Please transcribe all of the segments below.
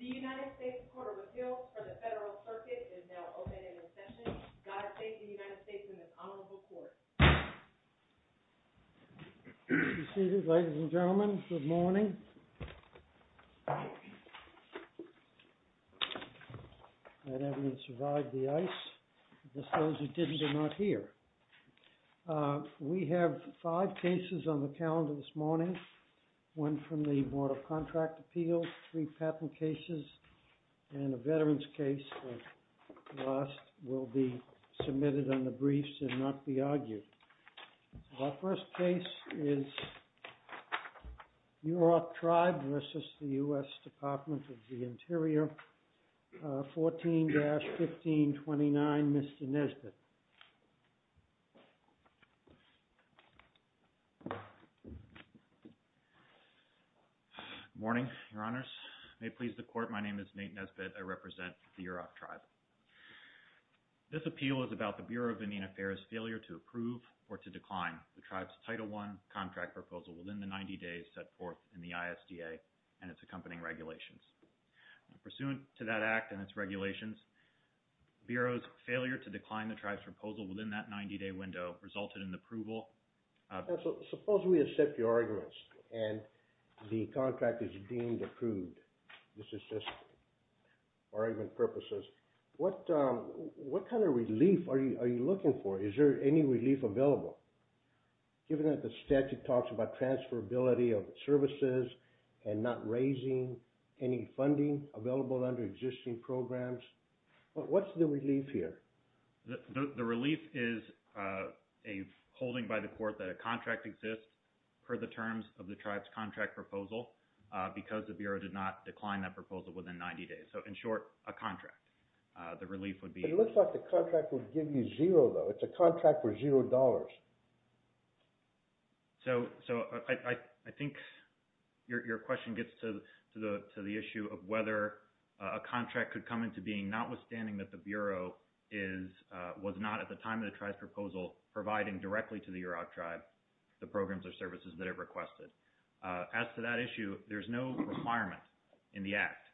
The United States Court of Appeals for the Federal Circuit is now open in recession. God save the United States and this honorable Court. Good morning. We have five cases on the calendar this morning, one from the Board of Contract Appeals, three patent cases, and a veterans case that will be submitted on the briefs and not be argued. Our first case is Yurok Tribe v. U.S. Department of the Interior, 14-1529, Mr. Nesbitt. Good morning, Your Honors. May it please the Court, my name is Nate Nesbitt. I represent the Yurok Tribe. This appeal is about the Bureau of Indian Affairs' failure to approve or to decline the Tribe's Title I contract proposal within the 90 days set forth in the ISDA and its accompanying regulations. Pursuant to that act and its regulations, the Bureau's failure to decline the Tribe's proposal within that 90-day window resulted in the approval of… What kind of relief are you looking for? Is there any relief available? Given that the statute talks about transferability of services and not raising any funding available under existing programs, what's the relief here? The relief is a holding by the Court that a contract exists per the terms of the Tribe's contract proposal because the Bureau did not decline that proposal within 90 days. In short, a contract. The relief would be… It looks like the contract would give you zero, though. It's a contract for zero dollars. I think your question gets to the issue of whether a contract could come into being notwithstanding that the Bureau was not at the time of the Tribe's proposal providing directly to the Yurok Tribe the programs or services that it requested. As to that issue, there's no requirement in the act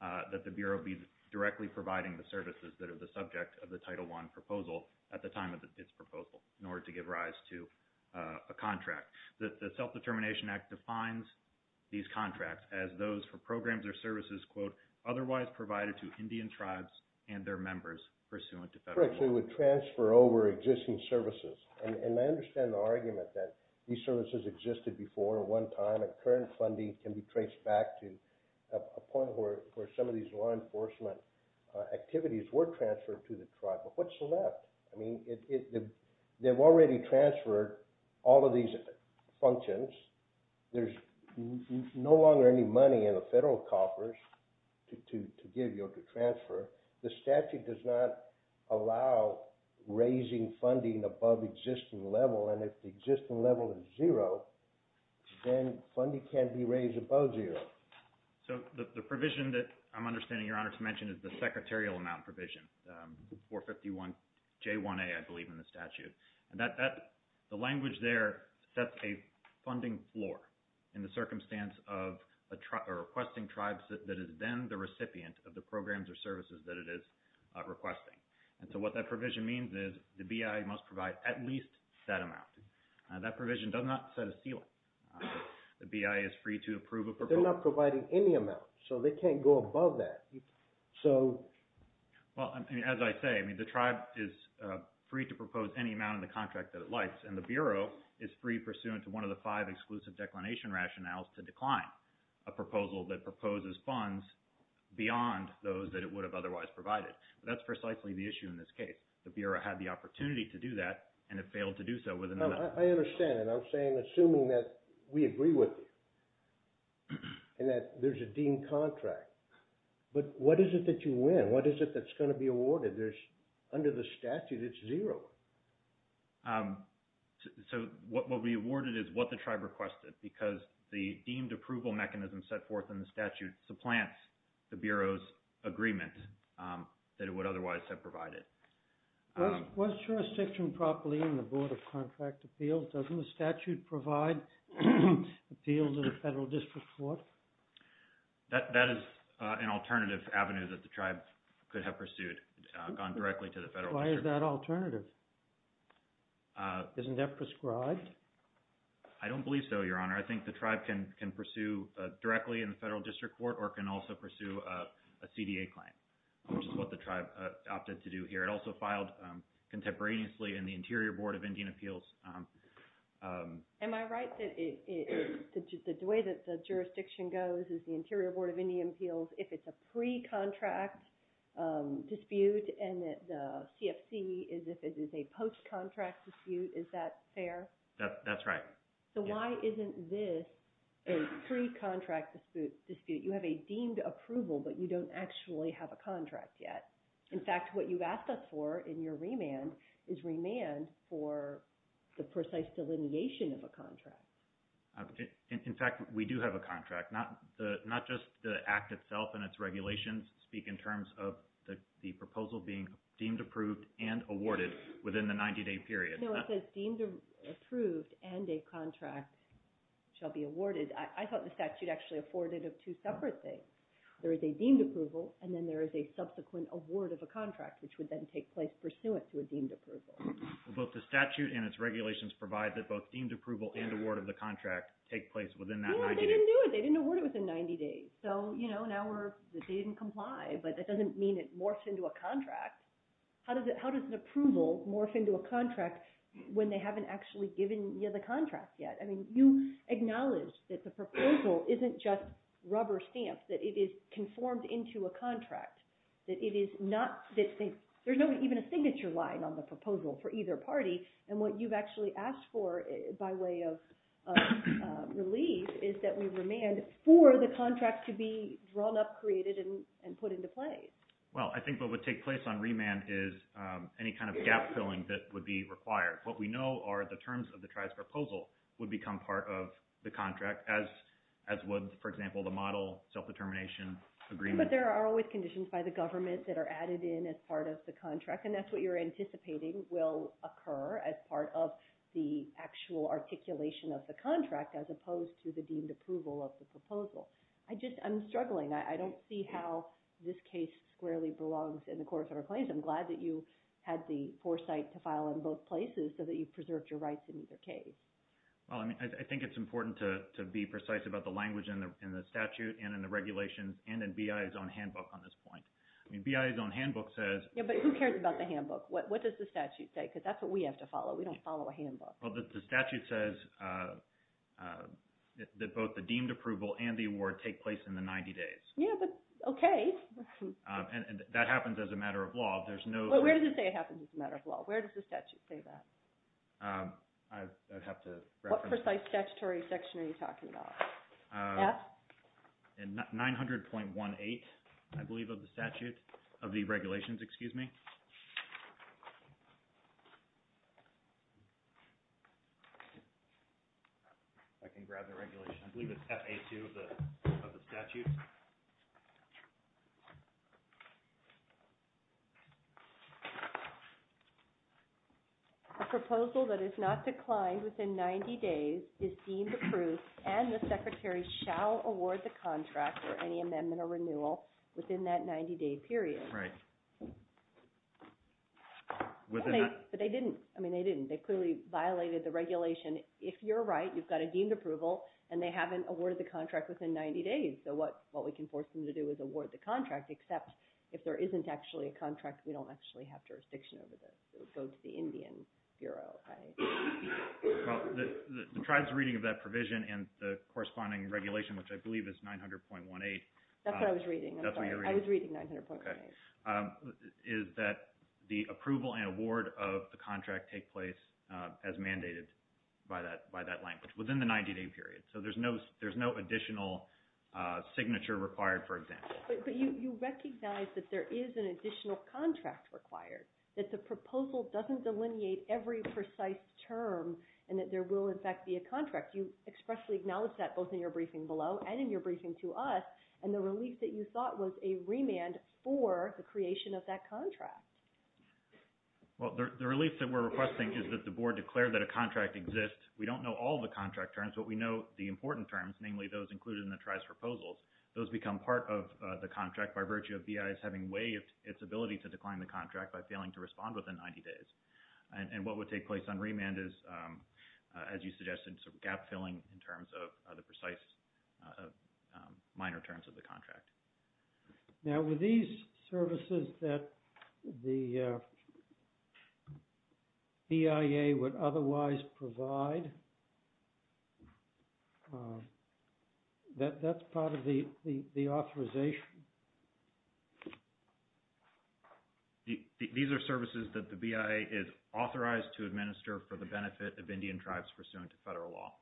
that the Bureau be directly providing the services that are the subject of the Title I proposal at the time of its proposal in order to give rise to a contract. The Self-Determination Act defines these contracts as those for programs or services, quote, otherwise provided to Indian Tribes and their members pursuant to federal law. So it would transfer over existing services. And I understand the argument that these services existed before at one time and current funding can be traced back to a point where some of these law enforcement activities were transferred to the Tribe. But what's left? I mean, they've already transferred all of these functions. There's no longer any money in the federal coffers to give you or to transfer. The statute does not allow raising funding above existing level. And if the existing level is zero, then funding can't be raised above zero. So the provision that I'm understanding, Your Honor, to mention is the secretarial amount provision, 451J1A, I believe, in the statute. And the language there sets a funding floor in the circumstance of requesting Tribes that is then the recipient of the programs or services that it is requesting. And so what that provision means is the BIA must provide at least that amount. That provision does not set a ceiling. The BIA is free to approve a proposal. But they're not providing any amount. So they can't go above that. Well, as I say, I mean, the Tribe is free to propose any amount in the contract that it likes. And the Bureau is free pursuant to one of the five exclusive declination rationales to decline a proposal that proposes funds beyond those that it would have otherwise provided. But that's precisely the issue in this case. The Bureau had the opportunity to do that and it failed to do so within the— I understand. And I'm saying, assuming that we agree with you and that there's a deemed contract. But what is it that you win? What is it that's going to be awarded? Under the statute, it's zero. So what will be awarded is what the Tribe requested because the deemed approval mechanism set forth in the statute supplants the Bureau's agreement that it would otherwise have provided. Was jurisdiction properly in the Board of Contract Appeals? Doesn't the statute provide appeals to the Federal District Court? That is an alternative avenue that the Tribe could have pursued, gone directly to the Federal District Court. Why is that alternative? Isn't that prescribed? I don't believe so, Your Honor. I think the Tribe can pursue directly in the Federal District Court or can also pursue a CDA claim, which is what the Tribe opted to do here. It also filed contemporaneously in the Interior Board of Indian Appeals. Am I right that the way that the jurisdiction goes is the Interior Board of Indian Appeals, if it's a pre-contract dispute and the CFC is if it is a post-contract dispute, is that fair? That's right. So why isn't this a pre-contract dispute? You have a deemed approval, but you don't actually have a contract yet. In fact, what you've asked us for in your remand is remand for the precise delineation of a contract. In fact, we do have a contract. Not just the Act itself and its regulations speak in terms of the proposal being deemed approved and awarded within the 90-day period. No, it says deemed approved and a contract shall be awarded. I thought the statute actually afforded of two separate things. There is a deemed approval and then there is a subsequent award of a contract, which would then take place pursuant to a deemed approval. Well, both the statute and its regulations provide that both deemed approval and award of the contract take place within that 90 days. So now they didn't comply, but that doesn't mean it morphed into a contract. How does an approval morph into a contract when they haven't actually given you the contract yet? You acknowledge that the proposal isn't just rubber stamped, that it is conformed into a contract. There's not even a signature line on the proposal for either party. And what you've actually asked for by way of relief is that we remand for the contract to be drawn up, created, and put into play. Well, I think what would take place on remand is any kind of gap-filling that would be required. What we know are the terms of the tribe's proposal would become part of the contract, as would, for example, the model self-determination agreement. But there are always conditions by the government that are added in as part of the contract, and that's what you're anticipating will occur as part of the actual articulation of the contract as opposed to the deemed approval of the proposal. I'm struggling. I don't see how this case squarely belongs in the Court of Federal Claims. I'm glad that you had the foresight to file in both places so that you preserved your rights in either case. Well, I mean, I think it's important to be precise about the language in the statute and in the regulations and in BIA's own handbook on this point. I mean, BIA's own handbook says... Yeah, but who cares about the handbook? What does the statute say? Because that's what we have to follow. We don't follow a handbook. Well, the statute says that both the deemed approval and the award take place in the 90 days. Yeah, but okay. And that happens as a matter of law. There's no... Well, where does it say it happens as a matter of law? Where does the statute say that? I'd have to reference... What precise statutory section are you talking about? F? 900.18, I believe, of the statute... of the regulations, excuse me. If I can grab the regulations. I believe it's F.A. 2 of the statute. A proposal that is not declined within 90 days is deemed approved and the secretary shall award the contract or any amendment or renewal within that 90 day period. Right. But they didn't. I mean, they didn't. They clearly violated the regulation. If you're right, you've got a deemed approval, and they haven't awarded the contract within 90 days. So what we can force them to do is award the contract, except if there isn't actually a contract, we don't actually have jurisdiction over this. It would go to the Indian Bureau. Well, the tribe's reading of that provision and the corresponding regulation, which I believe is 900.18... That's what I was reading. I'm sorry. I was reading 900.18. ...is that the approval and award of the contract take place as mandated by that language within the 90 day period. So there's no additional signature required, for example. But you recognize that there is an additional contract required, that the proposal doesn't delineate every precise term and that there will, in fact, be a contract. You expressly acknowledged that both in your briefing below and in your briefing to us. And the relief that you thought was a remand for the creation of that contract. Well, the relief that we're requesting is that the board declared that a contract exists. We don't know all the contract terms, but we know the important terms, namely those included in the tribe's proposals. Those become part of the contract by virtue of BIS having waived its ability to decline the contract by failing to respond within 90 days. And what would take place on remand is, as you suggested, gap filling in terms of the precise minor terms of the contract. Now, were these services that the BIA would otherwise provide, that's part of the authorization? These are services that the BIA is authorized to administer for the benefit of Indian tribes pursuant to federal law.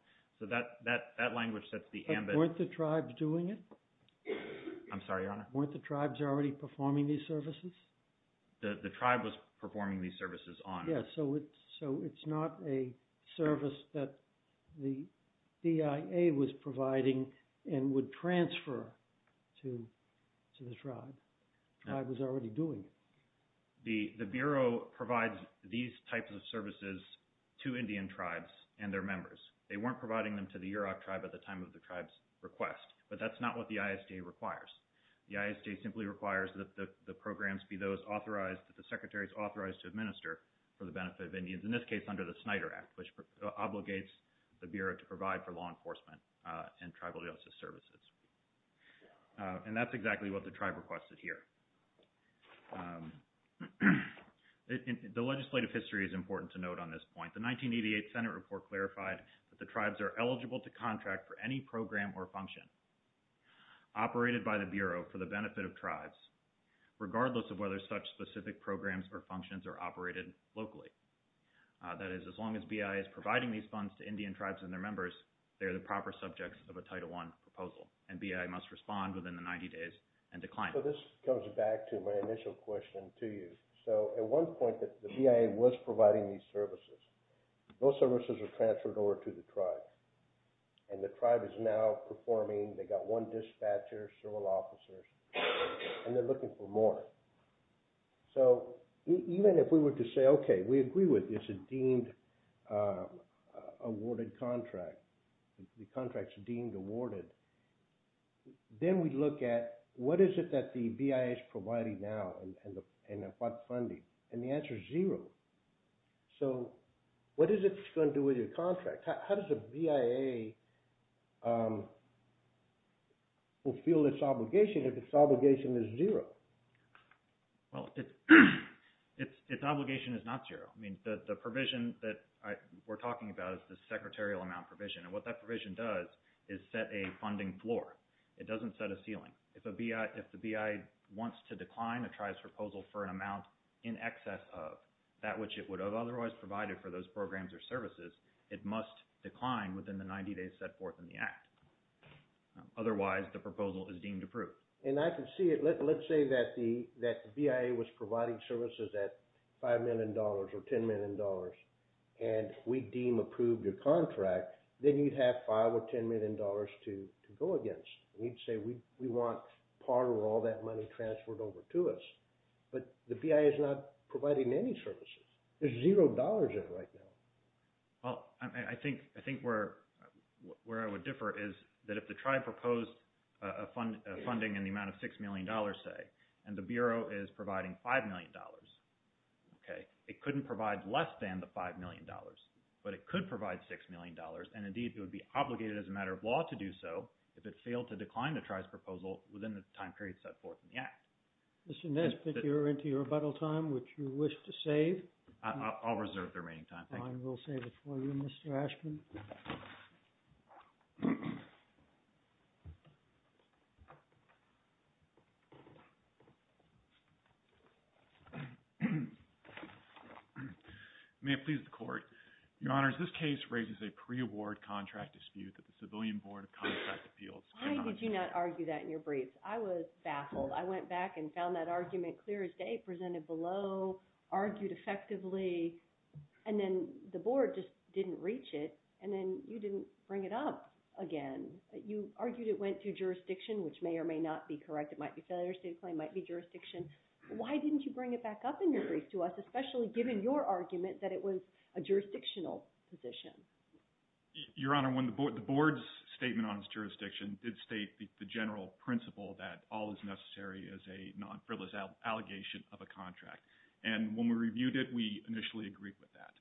So that language sets the ambit. But weren't the tribes doing it? I'm sorry, Your Honor. Weren't the tribes already performing these services? The tribe was performing these services on. So it's not a service that the BIA was providing and would transfer to the tribe. The tribe was already doing it. The Bureau provides these types of services to Indian tribes and their members. They weren't providing them to the Yurok tribe at the time of the tribe's request. But that's not what the ISDA requires. The ISDA simply requires that the programs be those authorized, that the secretaries authorized to administer for the benefit of Indians, in this case under the Snyder Act, which obligates the Bureau to provide for law enforcement and tribal justice services. And that's exactly what the tribe requested here. The legislative history is important to note on this point. The 1988 Senate report clarified that the tribes are eligible to contract for any program or function. Operated by the Bureau for the benefit of tribes, regardless of whether such specific programs or functions are operated locally. That is, as long as BIA is providing these funds to Indian tribes and their members, they're the proper subjects of a Title I proposal. And BIA must respond within the 90 days and decline. So this goes back to my initial question to you. So at one point, the BIA was providing these services. Those services were transferred over to the tribe. And the tribe is now performing. They've got one dispatcher, several officers, and they're looking for more. So even if we were to say, okay, we agree with this, it's a deemed-awarded contract. The contract's deemed-awarded. Then we look at what is it that the BIA is providing now and what funding? And the answer is zero. So what is it that's going to do with your contract? How does the BIA fulfill its obligation if its obligation is zero? Well, its obligation is not zero. I mean, the provision that we're talking about is the secretarial amount provision. And what that provision does is set a funding floor. It doesn't set a ceiling. If the BIA wants to decline a tribe's proposal for an amount in excess of that which it would have otherwise provided for those programs or services, it must decline within the 90 days set forth in the Act. Otherwise, the proposal is deemed approved. And I can see it. Let's say that the BIA was providing services at $5 million or $10 million, and we deem approved your contract. Then you'd have $5 or $10 million to go against. And you'd say we want part of all that money transferred over to us. But the BIA is not providing any services. There's zero dollars in right now. Well, I think where I would differ is that if the tribe proposed a funding in the amount of $6 million, say, and the Bureau is providing $5 million, okay, it couldn't provide less than the $5 million, but it could provide $6 million. And, indeed, it would be obligated as a matter of law to do so if it failed to decline a tribe's proposal within the time period set forth in the Act. Mr. Nesbitt, you're into your rebuttal time, which you wish to save. I'll reserve the remaining time. Thank you. Fine. We'll save it for you, Mr. Ashman. May it please the Court. Your Honors, this case raises a pre-award contract dispute that the Civilian Board of Contract Appeals cannot agree to. Why did you not argue that in your briefs? I was baffled. I went back and found that argument clear as day, presented below, argued effectively, and then the Board just didn't reach it, and then you didn't bring it up again. You argued it went through jurisdiction, which may or may not be correct. It might be a failure state of claim, might be jurisdiction. Why didn't you bring it back up in your brief to us, especially given your argument that it was a jurisdictional position? Your Honor, the Board's statement on its jurisdiction did state the general principle that all is necessary is a non-frivolous allegation of a contract. And when we reviewed it, we initially agreed with that.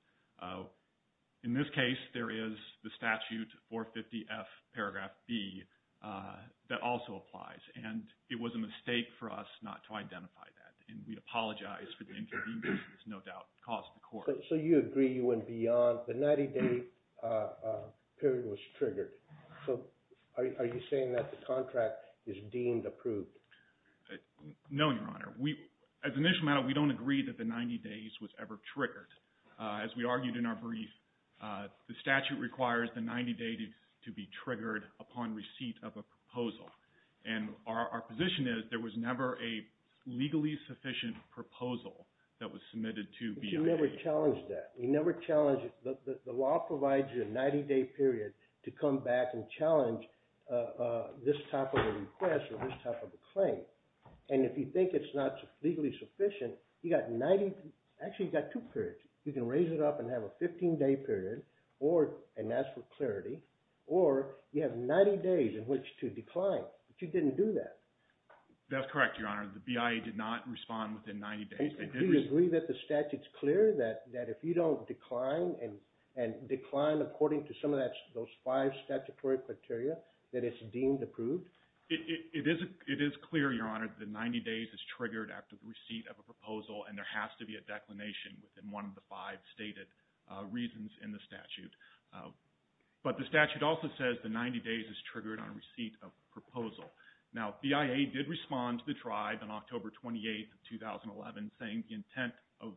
In this case, there is the statute, 450F, paragraph B, that also applies. And it was a mistake for us not to identify that, and we apologize for the inconvenience it has no doubt caused the Court. So you agree you went beyond – the 90-day period was triggered. So are you saying that the contract is deemed approved? No, Your Honor. As an issue matter, we don't agree that the 90 days was ever triggered. As we argued in our brief, the statute requires the 90 days to be triggered upon receipt of a proposal. And our position is there was never a legally sufficient proposal that was submitted to BIA. But you never challenged that. You never challenged – the law provides you a 90-day period to come back and challenge this type of a request or this type of a claim. And if you think it's not legally sufficient, you've got 90 – actually, you've got two periods. You can raise it up and have a 15-day period and ask for clarity, or you have 90 days in which to decline. But you didn't do that. That's correct, Your Honor. The BIA did not respond within 90 days. Do you agree that the statute's clear, that if you don't decline and decline according to some of those five statutory criteria, that it's deemed approved? It is clear, Your Honor, that 90 days is triggered after the receipt of a proposal, and there has to be a declination within one of the five stated reasons in the statute. But the statute also says the 90 days is triggered on receipt of a proposal. Now, BIA did respond to the tribe on October 28, 2011, saying the intent of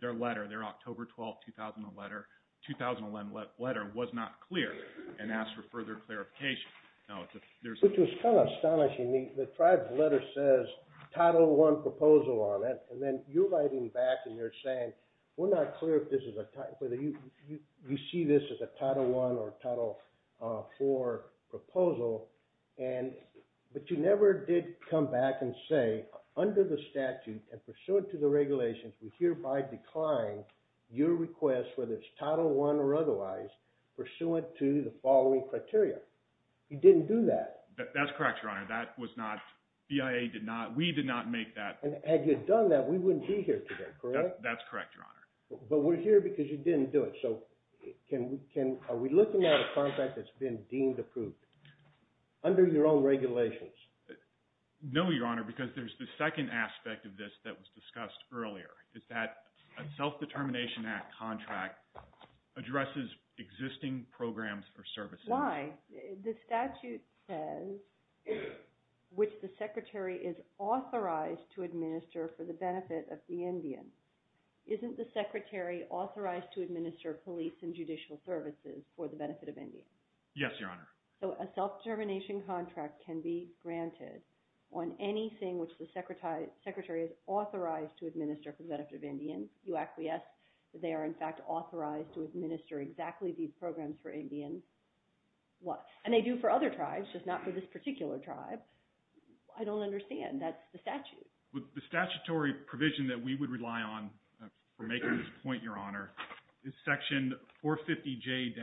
their letter, their October 12, 2011 letter was not clear, and asked for further clarification. Which was kind of astonishing. The tribe's letter says Title I proposal on it, and then you're writing back and you're saying we're not clear if this is a – but you never did come back and say, under the statute and pursuant to the regulations, we hereby decline your request, whether it's Title I or otherwise, pursuant to the following criteria. You didn't do that. That's correct, Your Honor. That was not – BIA did not – we did not make that – And had you done that, we wouldn't be here today, correct? That's correct, Your Honor. But we're here because you didn't do it. So are we looking at a contract that's been deemed approved under your own regulations? No, Your Honor, because there's the second aspect of this that was discussed earlier. It's that a Self-Determination Act contract addresses existing programs or services. Why? The statute says, which the Secretary is authorized to administer for the benefit of the Indian. Isn't the Secretary authorized to administer police and judicial services for the benefit of Indians? Yes, Your Honor. So a self-determination contract can be granted on anything which the Secretary is authorized to administer for the benefit of Indians. You acquiesce that they are, in fact, authorized to administer exactly these programs for Indians. And they do for other tribes, just not for this particular tribe. I don't understand. That's the statute. The statutory provision that we would rely on for making this point, Your Honor, is Section 450J-1,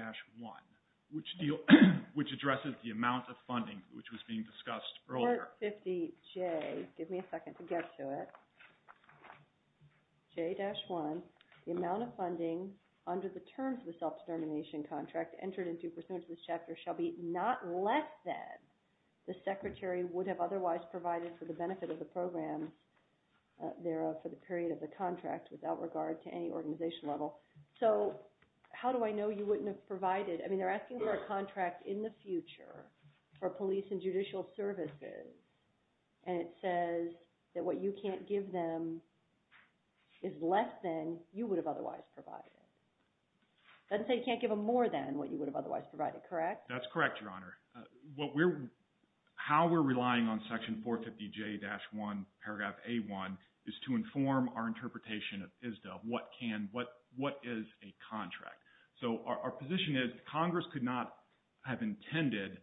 which addresses the amount of funding which was being discussed earlier. 450J, give me a second to get to it. J-1, the amount of funding under the terms of the self-determination contract entered into pursuant to this chapter shall be not less than the Secretary would have otherwise provided for the benefit of the programs thereof for the period of the contract without regard to any organization level. So how do I know you wouldn't have provided? I mean, they're asking for a contract in the future for police and judicial services, and it says that what you can't give them is less than you would have otherwise provided. It doesn't say you can't give them more than what you would have otherwise provided, correct? That's correct, Your Honor. How we're relying on Section 450J-1, Paragraph A-1, is to inform our interpretation of ISDA of what is a contract. So our position is Congress could not have intended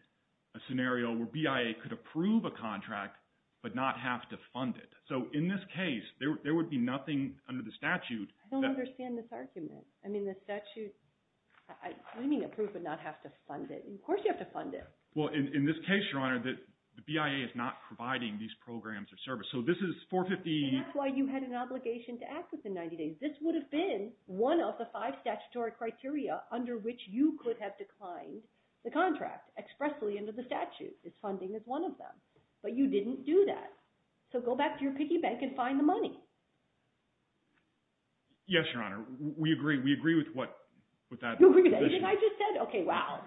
a scenario where BIA could approve a contract but not have to fund it. So in this case, there would be nothing under the statute. I don't understand this argument. I mean, the statute – I mean, approve but not have to fund it. Of course you have to fund it. Well, in this case, Your Honor, the BIA is not providing these programs or service. So this is 450 – And that's why you had an obligation to act within 90 days. This would have been one of the five statutory criteria under which you could have declined the contract expressly under the statute. This funding is one of them. But you didn't do that. So go back to your piggy bank and find the money. Yes, Your Honor. We agree. We agree with what – with that position. You agree with anything I just said? Okay, wow.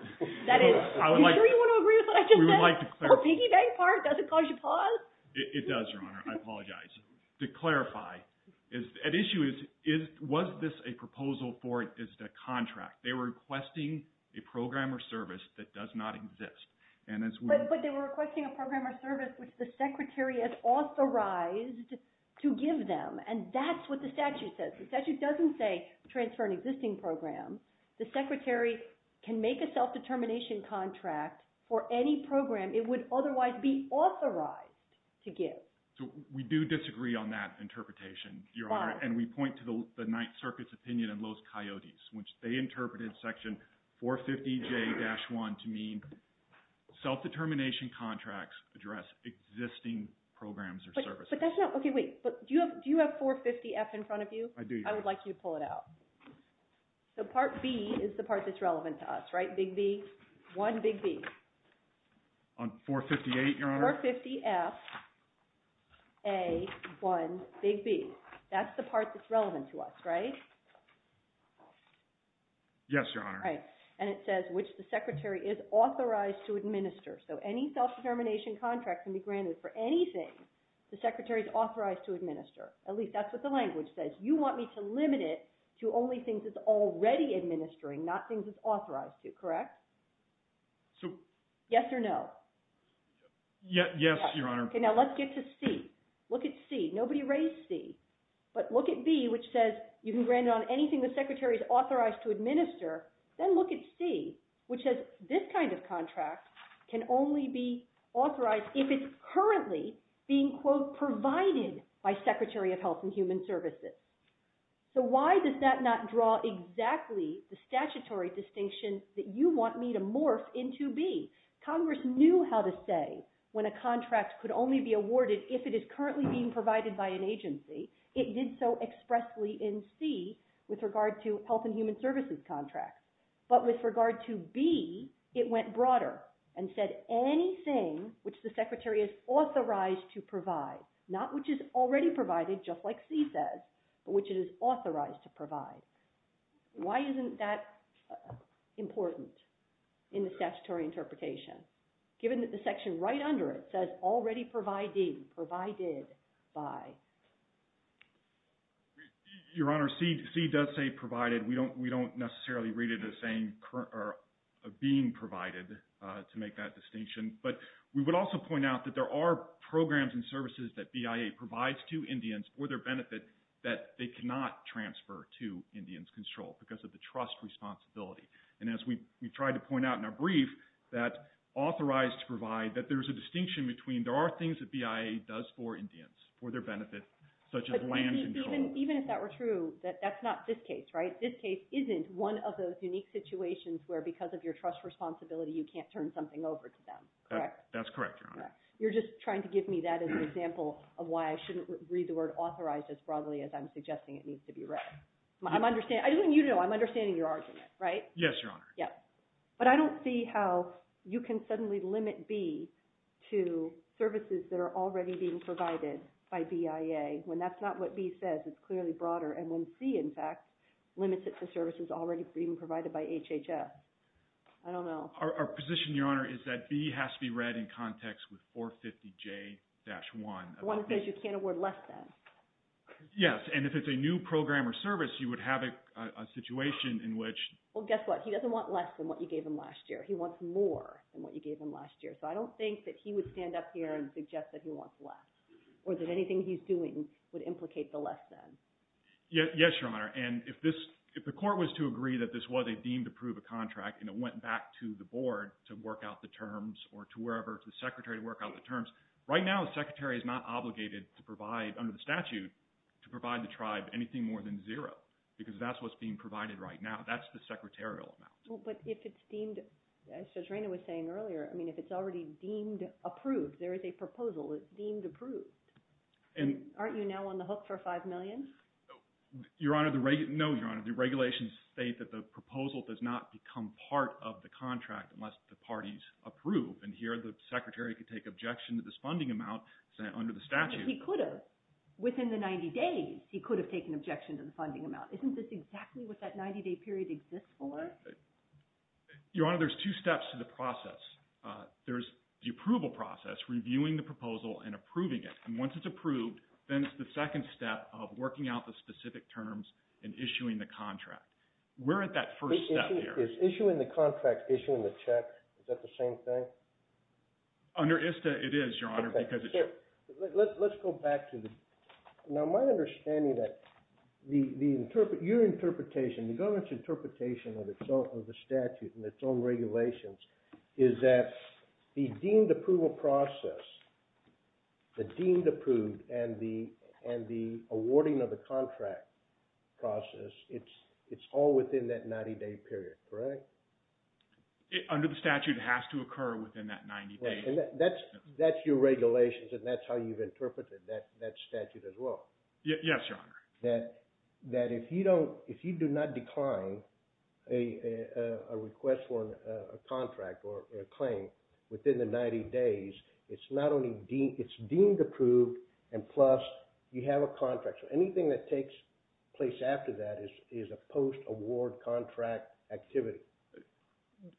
That is – are you sure you want to agree with what I just said? We would like to clarify. The piggy bank part, does it cause you pause? It does, Your Honor. I apologize. To clarify, an issue is, was this a proposal for ISDA contract? They were requesting a program or service that does not exist. But they were requesting a program or service which the Secretary has authorized to give them. And that's what the statute says. The statute doesn't say transfer an existing program. The Secretary can make a self-determination contract for any program it would otherwise be authorized to give. So we do disagree on that interpretation, Your Honor. Fine. And we point to the Ninth Circuit's opinion on Lowe's Coyotes, which they interpreted Section 450J-1 to mean self-determination contracts address existing programs or services. But that's not – okay, wait. Do you have 450F in front of you? I do. I would like you to pull it out. So Part B is the part that's relevant to us, right? Big B. One big B. On 458, Your Honor? 450F, A, one big B. That's the part that's relevant to us, right? Yes, Your Honor. Right. And it says which the Secretary is authorized to administer. So any self-determination contract can be granted for anything the Secretary is authorized to administer. At least that's what the language says. You want me to limit it to only things it's already administering, not things it's authorized to, correct? So – Yes or no? Yes, Your Honor. Okay, now let's get to C. Look at C. Nobody raised C. But look at B, which says you can grant it on anything the Secretary is authorized to administer. Then look at C, which says this kind of contract can only be authorized if it's currently being, quote, provided by Secretary of Health and Human Services. So why does that not draw exactly the statutory distinction that you want me to morph into B? Congress knew how to say when a contract could only be awarded if it is currently being provided by an agency. It did so expressly in C with regard to health and human services contracts. But with regard to B, it went broader and said anything which the Secretary is authorized to provide, not which is already provided, just like C says, but which it is authorized to provide. Why isn't that important in the statutory interpretation given that the section right under it says already providing, provided by? Your Honor, C does say provided. We don't necessarily read it as being provided to make that distinction. But we would also point out that there are programs and services that BIA provides to Indians for their benefit that they cannot transfer to Indians controlled because of the trust responsibility. And as we tried to point out in our brief, that authorized to provide, that there is a distinction between there are things that BIA does for Indians for their benefit, such as land control. Even if that were true, that's not this case, right? This case isn't one of those unique situations where because of your trust responsibility, you can't turn something over to them, correct? That's correct, Your Honor. You're just trying to give me that as an example of why I shouldn't read the word authorized as broadly as I'm suggesting it needs to be read. I'm understanding, I don't want you to know, I'm understanding your argument, right? Yes, Your Honor. But I don't see how you can suddenly limit B to services that are already being provided by BIA when that's not what B says, it's clearly broader, and when C, in fact, limits it to services already being provided by HHS. I don't know. Our position, Your Honor, is that B has to be read in context with 450J-1. The one that says you can't award less than. Yes, and if it's a new program or service, you would have a situation in which… Well, guess what? He doesn't want less than what you gave him last year. He wants more than what you gave him last year. So I don't think that he would stand up here and suggest that he wants less, or that anything he's doing would implicate the less than. Yes, Your Honor. And if the court was to agree that this was a deemed approved contract and it went back to the board to work out the terms or to wherever, to the secretary to work out the terms, right now the secretary is not obligated to provide under the statute to provide the tribe anything more than zero because that's what's being provided right now. That's the secretarial amount. Well, but if it's deemed, as Judge Rayner was saying earlier, I mean, if it's already deemed approved, there is a proposal that's deemed approved, aren't you now on the hook for $5 million? Your Honor, no, Your Honor. The regulations state that the proposal does not become part of the contract unless the parties approve. And here the secretary could take objection to this funding amount under the statute. But he could have. Within the 90 days, he could have taken objection to the funding amount. Isn't this exactly what that 90-day period exists for? Your Honor, there's two steps to the process. There's the approval process, reviewing the proposal and approving it. And once it's approved, then it's the second step of working out the specific terms and issuing the contract. We're at that first step here. Is issuing the contract, issuing the check, is that the same thing? Under ISTA, it is, Your Honor, because it's your… Let's go back to the… Now, my understanding that your interpretation, the government's interpretation of the statute and its own regulations is that the deemed approval process, the deemed approved and the awarding of the contract process, it's all within that 90-day period, correct? Under the statute, it has to occur within that 90 days. That's your regulations, and that's how you've interpreted that statute as well. Yes, Your Honor. That if you do not decline a request for a contract or a claim within the 90 days, it's deemed approved, and plus you have a contract. So anything that takes place after that is a post-award contract activity.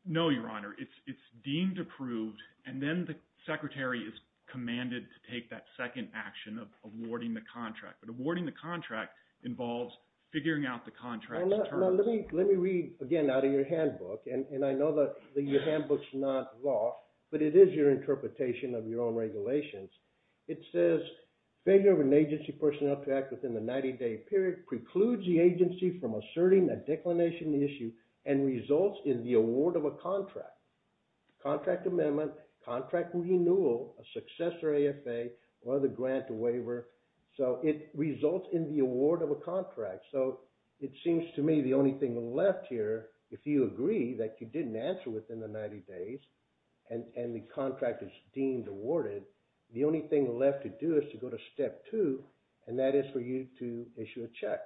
No, Your Honor. It's deemed approved, and then the secretary is commanded to take that second action of awarding the contract. But awarding the contract involves figuring out the contract's terms. Now, let me read again out of your handbook, and I know that your handbook's not lost, but it is your interpretation of your own regulations. It says, failure of an agency personnel to act within the 90-day period precludes the agency from asserting a declination issue and results in the award of a contract, contract amendment, contract renewal, a successor AFA, or the grant to waiver. So it results in the award of a contract. So it seems to me the only thing left here, if you agree that you didn't answer within the 90 days and the contract is deemed awarded, the only thing left to do is to go to step two, and that is for you to issue a check.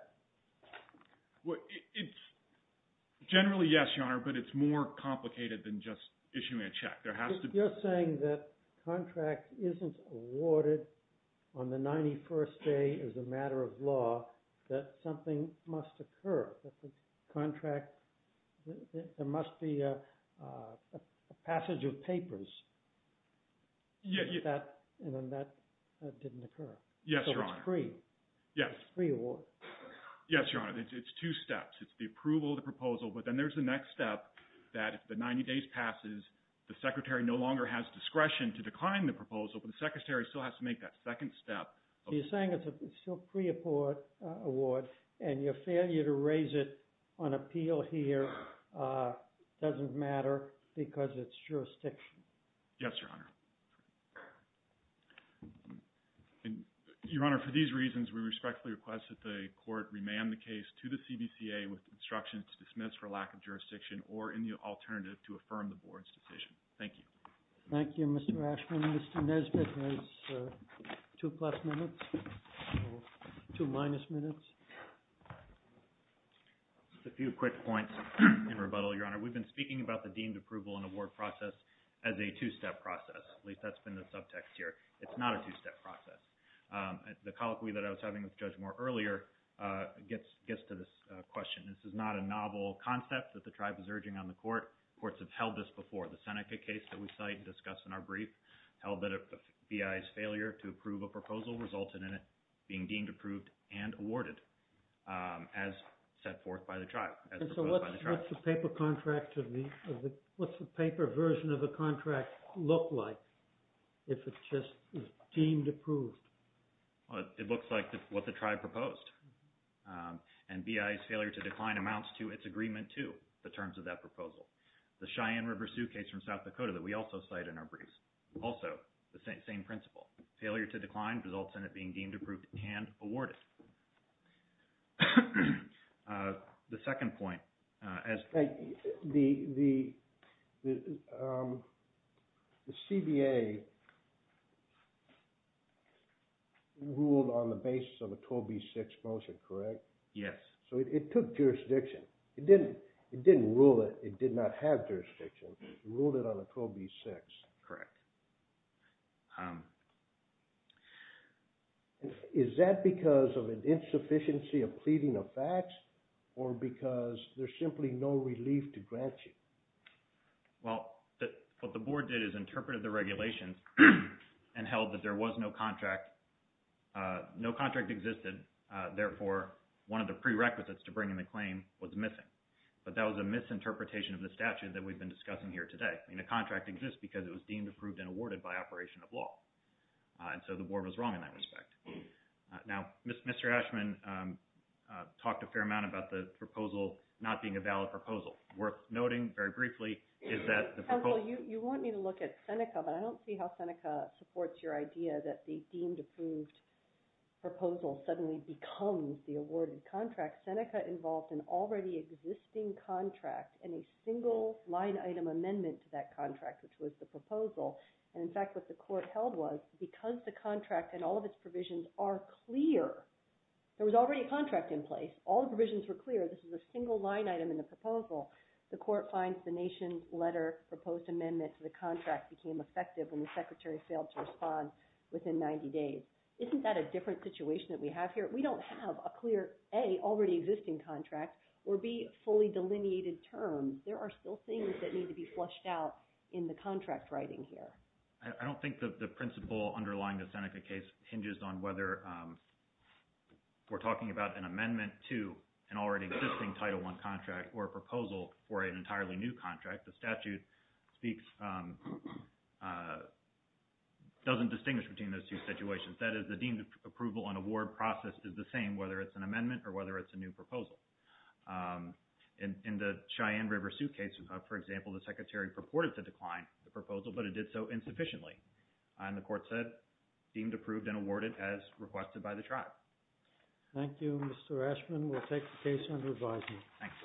Generally, yes, Your Honor, but it's more complicated than just issuing a check. You're saying that the contract isn't awarded on the 91st day as a matter of law, that something must occur, that the contract, there must be a passage of papers, and then that didn't occur. Yes, Your Honor. So it's free. Yes. It's free award. Yes, Your Honor. It's two steps. It's the approval of the proposal, but then there's the next step that if the 90 days passes, the secretary no longer has discretion to decline the proposal, but the secretary still has to make that second step. So you're saying it's still free award, and your failure to raise it on appeal here doesn't matter because it's jurisdiction. Yes, Your Honor. Your Honor, for these reasons, we respectfully request that the court remand the case to the CBCA with instructions to dismiss for lack of jurisdiction or any alternative to affirm the Board's decision. Thank you. Thank you, Mr. Ashman. Mr. Nesbitt has two plus minutes, two minus minutes. Just a few quick points in rebuttal, Your Honor. We've been speaking about the deemed approval and award process as a two-step process. At least that's been the subtext here. It's not a two-step process. The colloquy that I was having with Judge Moore earlier gets to this question. This is not a novel concept that the tribe is urging on the court. Courts have held this before. The Seneca case that we cite and discuss in our brief held that a BIA's failure to approve a proposal resulted in it being deemed And so what's the paper contract, what's the paper version of the contract look like if it's just deemed approved? It looks like what the tribe proposed. And BIA's failure to decline amounts to its agreement to the terms of that proposal. The Cheyenne River Sioux case from South Dakota that we also cite in our briefs, also the same principle. Failure to decline results in it being deemed approved and awarded. The second point. The CBA ruled on the basis of a 12B6 motion, correct? Yes. So it took jurisdiction. It didn't rule it. It did not have jurisdiction. It ruled it on a 12B6. Correct. Is that because of an insufficiency of pleading of facts or because there's simply no relief to grant you? Well, what the board did is interpreted the regulations and held that there was no contract. No contract existed. Therefore, one of the prerequisites to bringing the claim was missing. But that was a misinterpretation of the statute that we've been discussing here today. The contract exists because it was deemed approved and awarded by operation of law. And so the board was wrong in that respect. Now, Mr. Ashman talked a fair amount about the proposal not being a valid proposal. Worth noting, very briefly, is that the proposal – Counsel, you want me to look at Seneca, but I don't see how Seneca supports your idea that the deemed approved proposal suddenly becomes the awarded contract. Seneca involved an already existing contract and a single line item amendment to that contract, which was the proposal. And, in fact, what the court held was because the contract and all of its provisions are clear, there was already a contract in place. All the provisions were clear. This is a single line item in the proposal. The court finds the nation letter proposed amendment to the contract became effective when the secretary failed to respond within 90 days. Isn't that a different situation that we have here? We don't have a clear A, already existing contract, or B, fully delineated terms. There are still things that need to be flushed out in the contract writing here. I don't think that the principle underlying the Seneca case hinges on whether we're talking about an amendment to an already existing Title I contract or a proposal for an entirely new contract. The statute speaks – doesn't distinguish between those two situations. That is, the deemed approval and award process is the same, whether it's an amendment or whether it's a new proposal. In the Cheyenne River suitcase, for example, the secretary purported to decline the proposal, but it did so insufficiently. And the court said deemed approved and awarded as requested by the tribe. Thank you, Mr. Ashman. We'll take the case under advisement. Thanks.